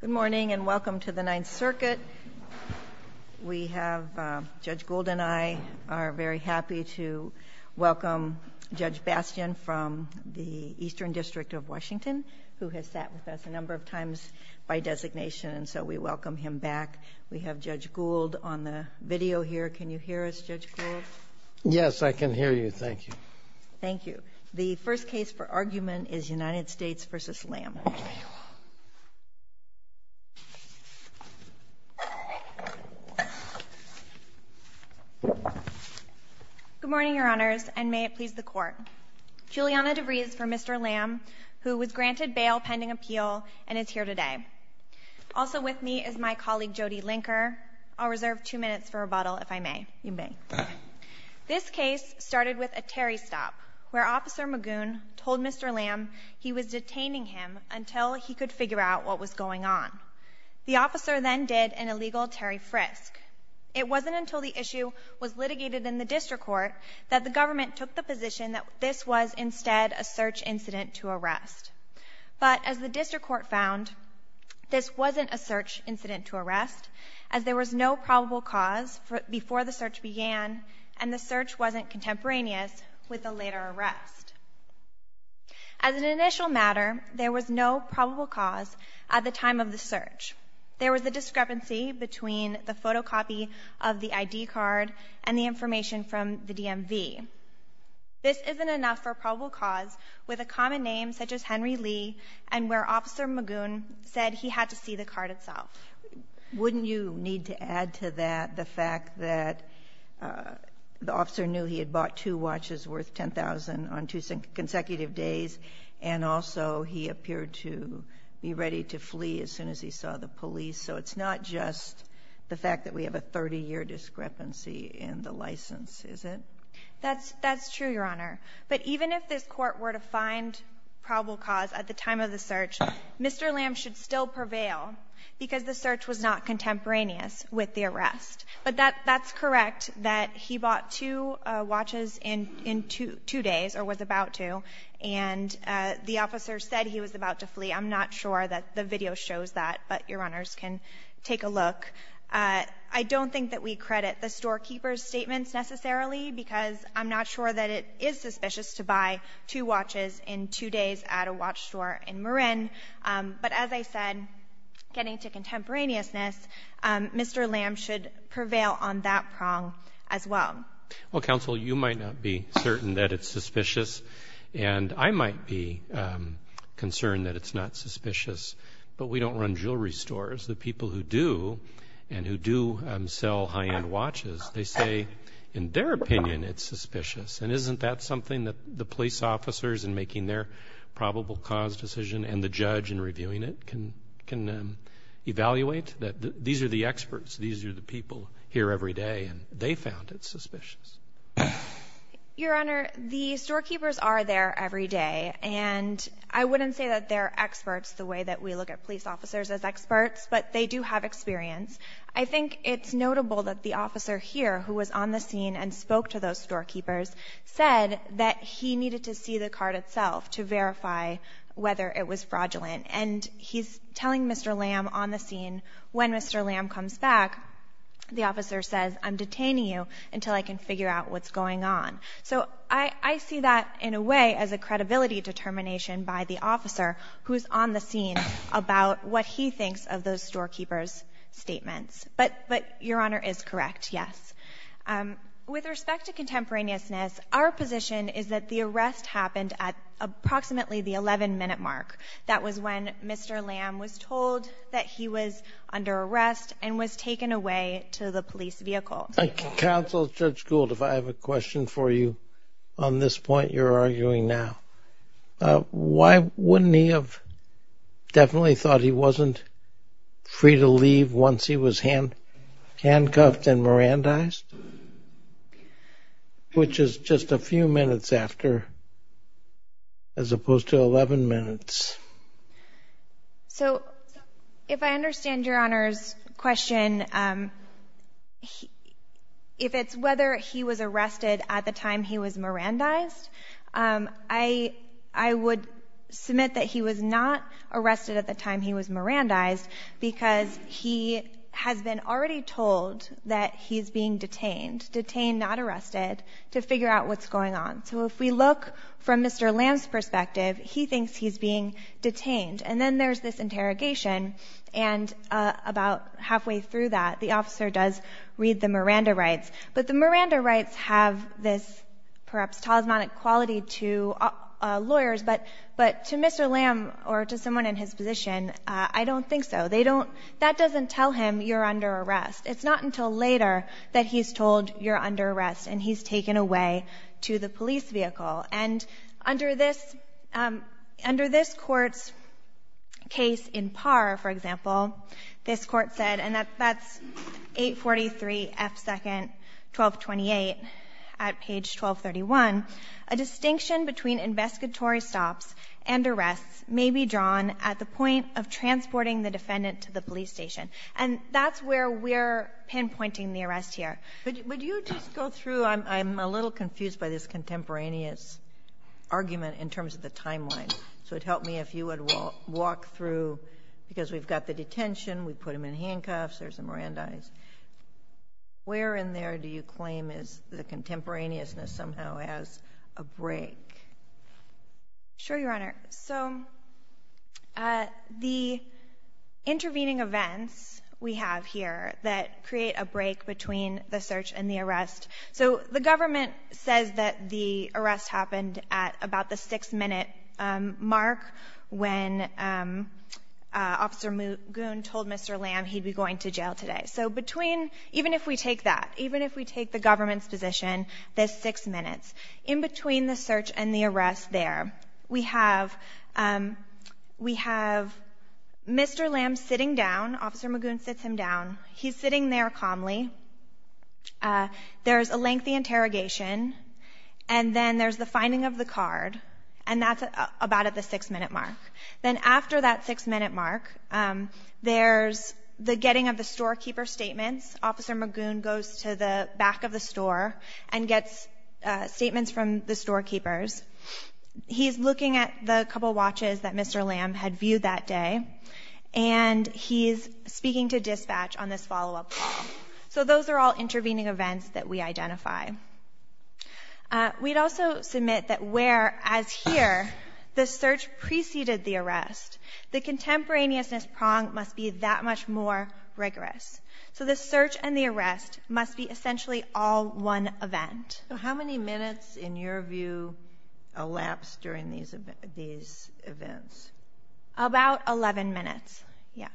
Good morning, and welcome to the Ninth Circuit. We have Judge Gould and I are very happy to welcome Judge Bastian from the Eastern District of Washington, who has sat with us a number of times by designation, and so we welcome him back. We have Judge Gould on the video here. Can you hear us, Judge Gould? Yes, I can hear you. Thank you. Thank you. The first case for argument is United States v. Lam. Good morning, Your Honors, and may it please the Court. Juliana DeVries for Mr. Lam, who was granted bail pending appeal and is here today. Also with me is my colleague Jody Linker. I'll reserve two minutes for rebuttal if I may. You may. This case started with a Terry stop, where Officer Magoon told Mr. Lam he was detaining him until he could figure out what was going on. The officer then did an illegal Terry frisk. It wasn't until the issue was litigated in the district court that the government took the position that this was instead a search incident to arrest. But as the district court found, this wasn't a search incident to arrest, as there was no probable cause before the search began, and the search wasn't contemporaneous with the later arrest. As an initial matter, there was no probable cause at the time of the search. There was a discrepancy between the photocopy of the I.D. card and the information from the DMV. This isn't enough for probable cause with a common name such as Henry Lee and where Officer Magoon said he had to see the card itself. Wouldn't you need to add to that the fact that the officer knew he had bought two watches worth $10,000 on two consecutive days, and also he appeared to be ready to flee as soon as he saw the police? So it's not just the fact that we have a 30-year discrepancy in the license, is it? That's true, Your Honor. But even if this court were to find probable cause at the time of the search, Mr. Lam should still prevail because the search was not contemporaneous with the arrest. But that's correct, that he bought two watches in two days, or was about to. And the officer said he was about to flee. I'm not sure that the video shows that, but Your Honors can take a look. I don't think that we credit the storekeeper's statements necessarily because I'm not sure that it is suspicious to buy two watches in two days at a watch store in Marin. But as I said, getting to contemporaneousness, Mr. Lam should prevail on that prong as well. Well, counsel, you might not be certain that it's suspicious, and I might be concerned that it's not suspicious. But we don't run jewelry stores. The people who do and who do sell high-end watches, they say in their opinion it's suspicious. And isn't that something that the police officers in making their probable cause decision and the judge in reviewing it can evaluate, that these are the experts, these are the people here every day, and they found it suspicious? Your Honor, the storekeepers are there every day. And I wouldn't say that they're experts the way that we look at police officers as experts, but they do have experience. I think it's notable that the officer here, who was on the scene and spoke to those storekeepers, said that he needed to see the cart itself to verify whether it was fraudulent. And he's telling Mr. Lam on the scene, when Mr. Lam comes back, the officer says, I'm detaining you until I can figure out what's going on. So I see that, in a way, as a credibility determination by the officer who's on the scene about what he thinks of those storekeepers' statements. But Your Honor is correct, yes. With respect to contemporaneousness, our position is that the arrest happened at approximately the 11-minute mark. That was when Mr. Lam was told that he was under arrest and was taken away to the police vehicle. Counsel, Judge Gould, if I have a question for you on this point you're arguing now. Why wouldn't he have definitely thought he wasn't free to leave once he was handcuffed and Mirandized, which is just a few minutes after, as opposed to 11 minutes? So if I understand Your Honor's question, if it's whether he was arrested at the time he was Mirandized, I would submit that he was not arrested at the time he was Mirandized because he has been already told that he's being detained, detained, not arrested, to figure out what's going on. So if we look from Mr. Lam's perspective, he thinks he's being detained. And then there's this interrogation, and about halfway through that, the officer does read the Miranda rights. But the Miranda rights have this, perhaps, talismanic quality to lawyers, but to Mr. Lam or to someone in his position, I don't think so. They don't — that doesn't tell him you're under arrest. It's not until later that he's told you're under arrest and he's taken away to the police vehicle. And under this — under this Court's case in Parr, for example, this Court said, and that's 843 F. 2nd, 1228, at page 1231, a distinction between investigatory stops and arrests may be drawn at the point of transporting the defendant to the police station. And that's where we're pinpointing the arrest here. But would you just go through — I'm a little confused by this contemporaneous argument in terms of the timeline. So it would help me if you would walk through, because we've got the detention. We put him in handcuffs. There's the Mirandis. Where in there do you claim is the contemporaneousness somehow has a break? Sure, Your Honor. So the intervening events we have here that create a break between the search and the arrest — so the government says that the arrest happened at about the 6 minute mark, and Magoon told Mr. Lamb he'd be going to jail today. So between — even if we take that, even if we take the government's position, the 6 minutes, in between the search and the arrest there, we have — we have Mr. Lamb sitting down. Officer Magoon sits him down. He's sitting there calmly. There's a lengthy interrogation. And then there's the finding of the card. And that's about at the 6 minute mark. Then after that 6 minute mark, there's the getting of the storekeeper's statements. Officer Magoon goes to the back of the store and gets statements from the storekeepers. He's looking at the couple watches that Mr. Lamb had viewed that day, and he's speaking to dispatch on this follow-up call. So those are all intervening events that we identify. We'd also submit that where, as here, the search preceded the arrest, the contemporaneousness prong must be that much more rigorous. So the search and the arrest must be essentially all one event. So how many minutes, in your view, elapsed during these events? About 11 minutes. Yeah.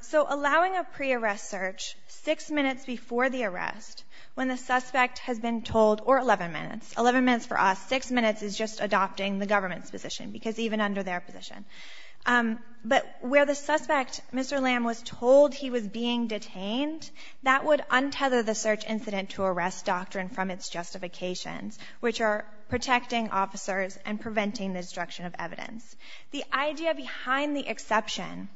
So allowing a pre-arrest search 6 minutes before the arrest, when the suspect has been told, or 11 minutes, 11 minutes for us, 6 minutes is just adopting the government's position, because even under their position. But where the suspect, Mr. Lamb, was told he was being detained, that would untether the search incident to arrest doctrine from its justifications, which are protecting officers and preventing the destruction of evidence. The idea behind the exception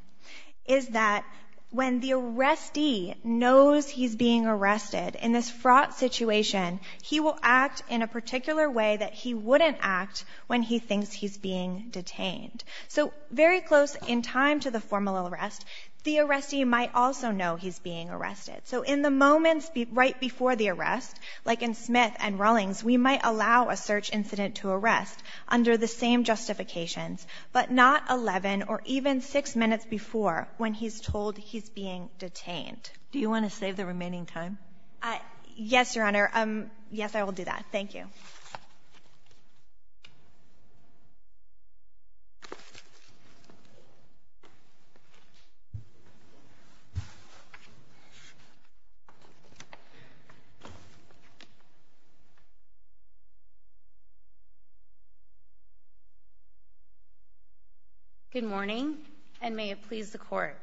is that when the arrestee knows he's being arrested in this fraught situation, he will act in a particular way that he wouldn't act when he thinks he's being detained. So very close in time to the formal arrest, the arrestee might also know he's being arrested. So in the moments right before the arrest, like in Smith and Rawlings, we might allow a search incident to arrest under the same justifications, but not 11 or even 6 minutes before, when he's told he's being detained. Do you want to save the remaining time? Yes, Your Honor. Yes, I will do that. Thank you. Good morning, and may it please the Court.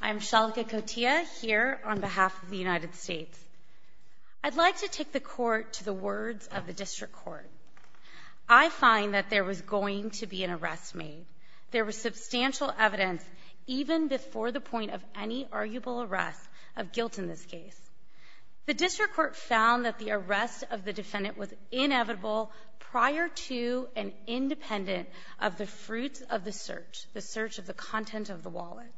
I'm Shalika Kotea, here on behalf of the United States. I'd like to take the Court to the words of the District Court. I find that there was going to be an arrest made. There was substantial evidence even before the point of any arguable arrest of guilt in this case. The District Court found that the arrest of the defendant was inevitable prior to and independent of the fruits of the search, the search of the content of the wallet.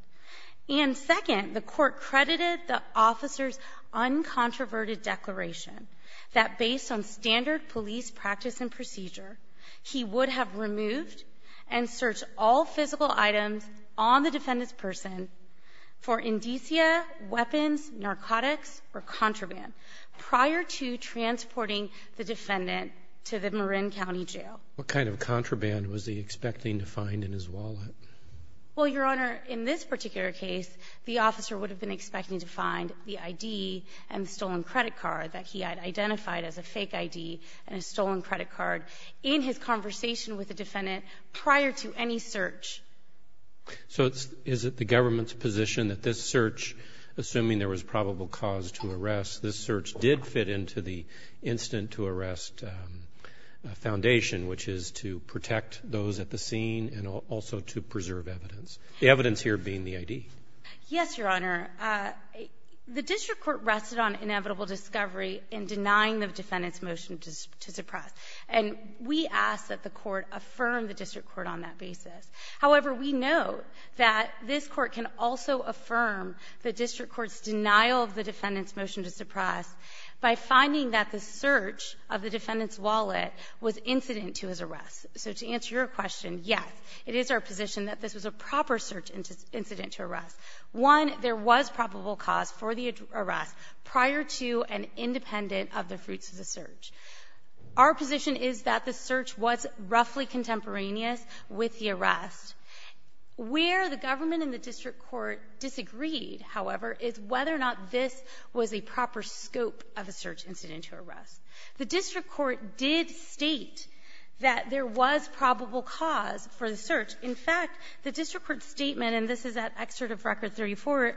And second, the Court credited the officer's uncontroverted declaration that based on standard police practice and procedure, he would have removed and searched all physical items on the defendant's person for indicia, weapons, narcotics, or contraband prior to transporting the defendant to the Marin County Jail. What kind of contraband was he expecting to find in his wallet? Well, Your Honor, in this particular case, the officer would have been expecting to find the I.D. and stolen credit card that he had identified as a fake I.D. and a stolen credit card in his conversation with the defendant prior to any search. So is it the government's position that this search, assuming there was probable cause to arrest, this search did fit into the incident-to-arrest foundation, which is to protect those at the scene and also to preserve evidence, the evidence here being the I.D.? Yes, Your Honor. The District Court rested on inevitable discovery in denying the defendant's motion to suppress. And we ask that the Court affirm the District Court on that basis. However, we note that this Court can also affirm the District Court's position on denying the defendant's motion to suppress by finding that the search of the defendant's wallet was incident-to-his-arrest. So to answer your question, yes, it is our position that this was a proper search incident-to-arrest. One, there was probable cause for the arrest prior to and independent of the fruits of the search. Our position is that the search was roughly contemporaneous with the arrest. Where the government and the District Court disagreed, however, is whether or not this was a proper scope of a search incident-to-arrest. The District Court did state that there was probable cause for the search. In fact, the District Court's statement and this is at Excerpt of Record 34, it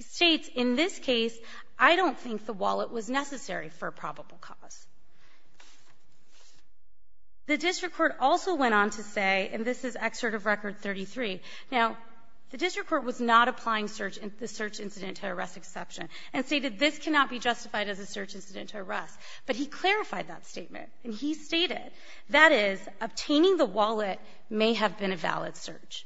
states, in this case, I don't think the wallet was necessary for probable cause. The District Court also went on to say, and this is Excerpt of Record 33, now, the District Court was not applying the search incident-to-arrest exception and stated this cannot be justified as a search incident-to-arrest. But he clarified that statement, and he stated, that is, obtaining the wallet may have been a valid search,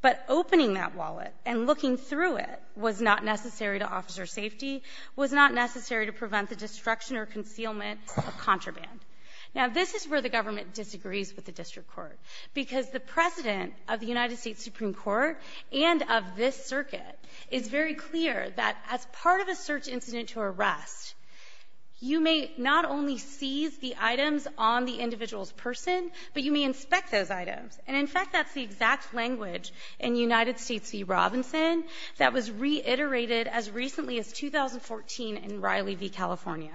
but opening that wallet and looking through it was not necessary to officer safety, was not necessary to prevent the destruction or concealment of contraband. Now, this is where the government disagrees with the District Court, because the President of the United States Supreme Court and of this circuit is very clear that as part of a search incident-to-arrest, you may not only seize the items on the individual's person, but you may inspect those items. And in fact, that's the exact language in United States v. Robinson that was reiterated as recently as 2014 in Riley v. California.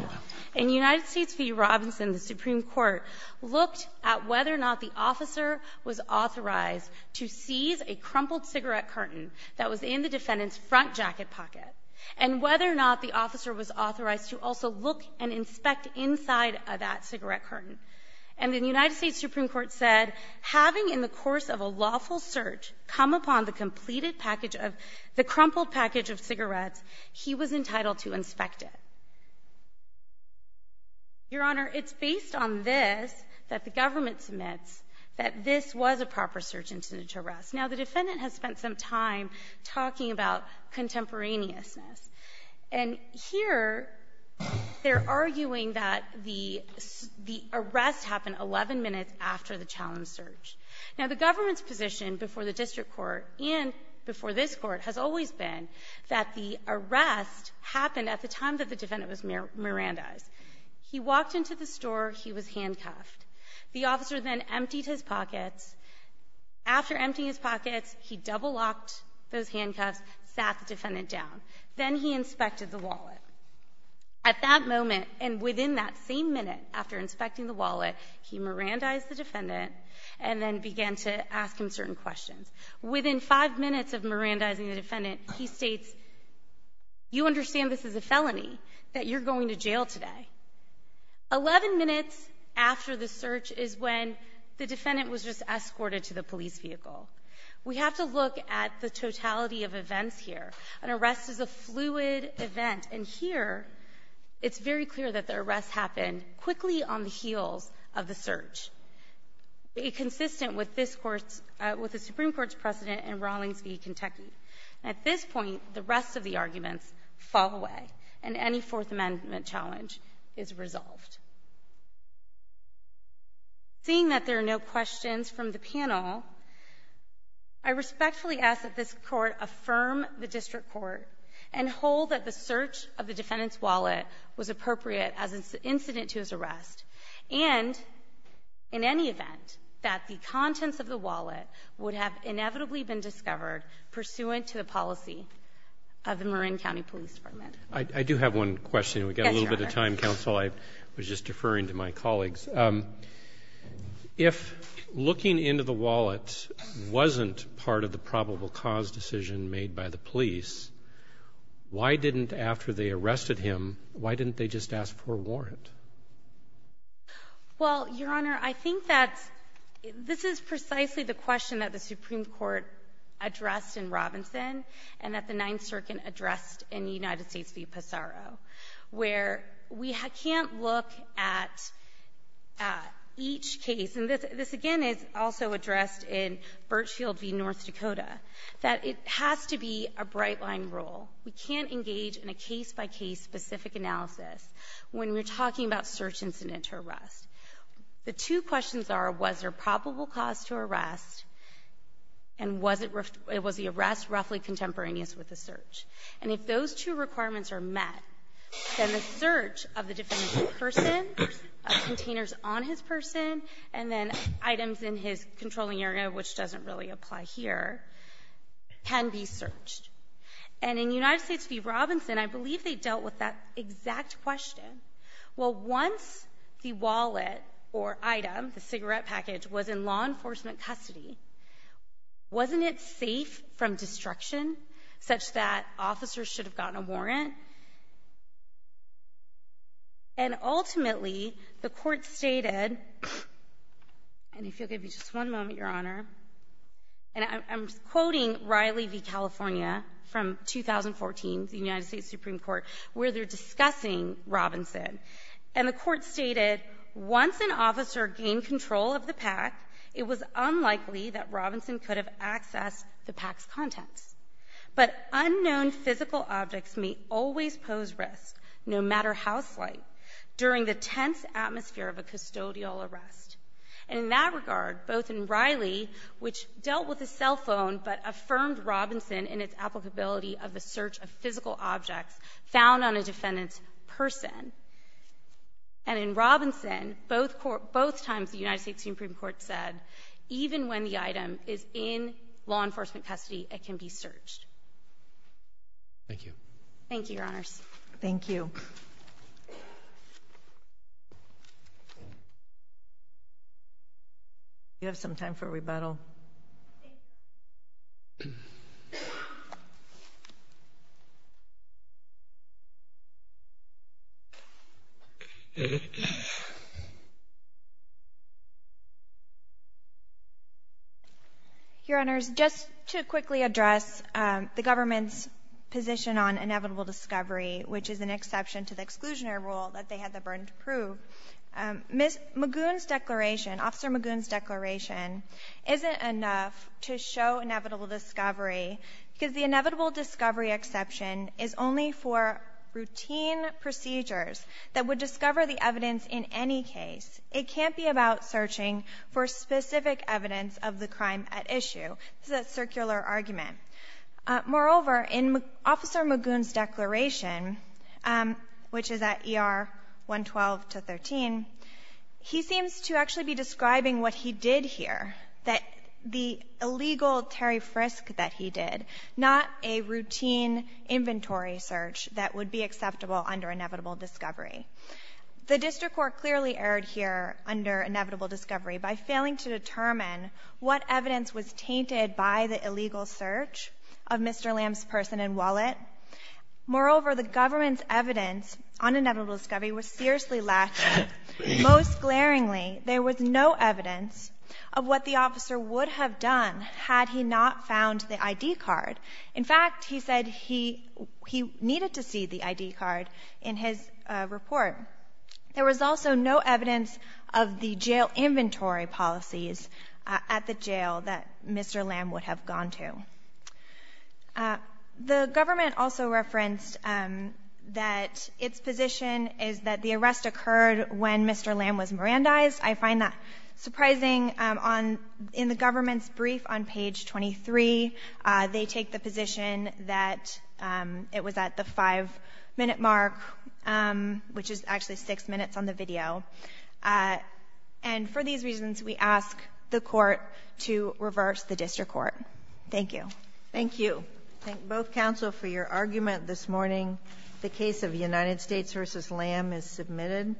In United States v. Robinson, the Supreme Court looked at whether or not the officer was authorized to seize a crumpled cigarette curtain that was in the defendant's front jacket pocket, and whether or not the officer was authorized to also look and inspect inside of that cigarette curtain. And the United States Supreme Court said, having in the course of a lawful search come upon the completed package of the crumpled package of cigarettes, he was entitled to inspect it. Your Honor, it's based on this that the government submits that this was a proper search incident-to-arrest. Now, the defendant has spent some time talking about contemporaneousness. And here, they're arguing that the arrest happened 11 minutes after the challenge search. Now, the government's position before the District Court and before this Court has always been that the arrest happened at the time that the defendant was Mirandized. He walked into the store. He was handcuffed. The officer then emptied his pockets. After emptying his pockets, he double-locked those handcuffs, sat the defendant down. Then he inspected the wallet. At that moment, and within that same minute after inspecting the wallet, he Mirandized the defendant and then began to ask him certain questions. Within five minutes of Mirandizing the defendant, he states, you understand this is a felony, that you're going to jail today. Eleven minutes after the search is when the defendant was just escorted to the police vehicle. We have to look at the totality of events here. An arrest is a fluid event. And here, it's very clear that the arrest happened quickly on the heels of the search, consistent with this Court's — with the Supreme Court's precedent in Rawlings v. Kentucky. At this point, the rest of the arguments fall away, and any Fourth Amendment challenge is resolved. Seeing that there are no questions from the panel, I respectfully ask that this Court affirm the District Court and hold that the search of the defendant's wallet was appropriate as an incident to his arrest, and in any event that the contents of the wallet would have inevitably been discovered pursuant to the policy of the Marin County Police Department. Roberts. I do have one question. We've got a little bit of time, counsel. I was just deferring to my colleagues. If looking into the wallet wasn't part of the probable cause decision made by the Well, Your Honor, I think that's — this is precisely the question that the Supreme Court addressed in Robinson and that the Ninth Circuit addressed in the United States v. Pissarro, where we can't look at each case — and this, again, is also addressed in Birchfield v. North Dakota — that it has to be a bright-line rule, we can't engage in a case-by-case specific analysis when we're talking about search incident to arrest. The two questions are, was there probable cause to arrest, and was it — was the arrest roughly contemporaneous with the search? And if those two requirements are met, then the search of the defendant's person, containers on his person, and then items in his controlling area, which doesn't really apply here, can be searched. And in United States v. Robinson, I believe they dealt with that exact question. Well, once the wallet or item, the cigarette package, was in law enforcement custody, wasn't it safe from destruction such that officers should have gotten a warrant? And ultimately, the Court stated — and if you'll give me just one moment, Your Honor, and I'm quoting Riley v. California from 2014, the United States Supreme Court, where they're discussing Robinson. And the Court stated, once an officer gained control of the pack, it was unlikely that Robinson could have accessed the pack's contents. But unknown physical objects may always pose risk, no matter how slight, during the tense atmosphere of a custodial arrest. And in that regard, both in Riley, which dealt with a cell phone, but affirmed Robinson in its applicability of the search of physical objects found on a defendant's person, and in Robinson, both times the United States Supreme Court said, even when the item is in law enforcement custody, it can be searched. Thank you. Thank you, Your Honors. Thank you. Do you have some time for rebuttal? Your Honors, just to quickly address the government's position on inevitable discovery, which is an exception to the exclusionary rule that they had the burden to prove, Magoon's declaration, Officer Magoon's declaration, isn't enough to show inevitable discovery, because the inevitable discovery exception is only for routine procedures that would discover the evidence in any case. It can't be about searching for specific evidence of the crime at issue. This is a circular argument. Moreover, in Officer Magoon's declaration, which is at ER 112 to 13, he seems to actually be describing what he did here, that the illegal Terry Frisk that he did, not a routine inventory search that would be acceptable under inevitable discovery. The district court clearly erred here under inevitable discovery by failing to determine what evidence was tainted by the illegal search of Mr. Lamb's person and wallet. Moreover, the government's evidence on inevitable discovery was seriously lacked. Most glaringly, there was no evidence of what the officer would have done had he not found the I.D. card. In fact, he said he needed to see the I.D. card in his report. There was also no evidence of the jail inventory policies at the jail that Mr. Lamb would have gone to. The government also referenced that its position is that the arrest occurred when Mr. Lamb was Mirandized. I find that surprising on the government's brief on page 23, they take the position that it was at the 5-minute mark, which is actually 6 minutes on the video. And for these reasons, we ask the Court to reverse the district court. Thank you. Thank you. Thank both counsel for your argument this morning. The case of United States v. Lamb is submitted.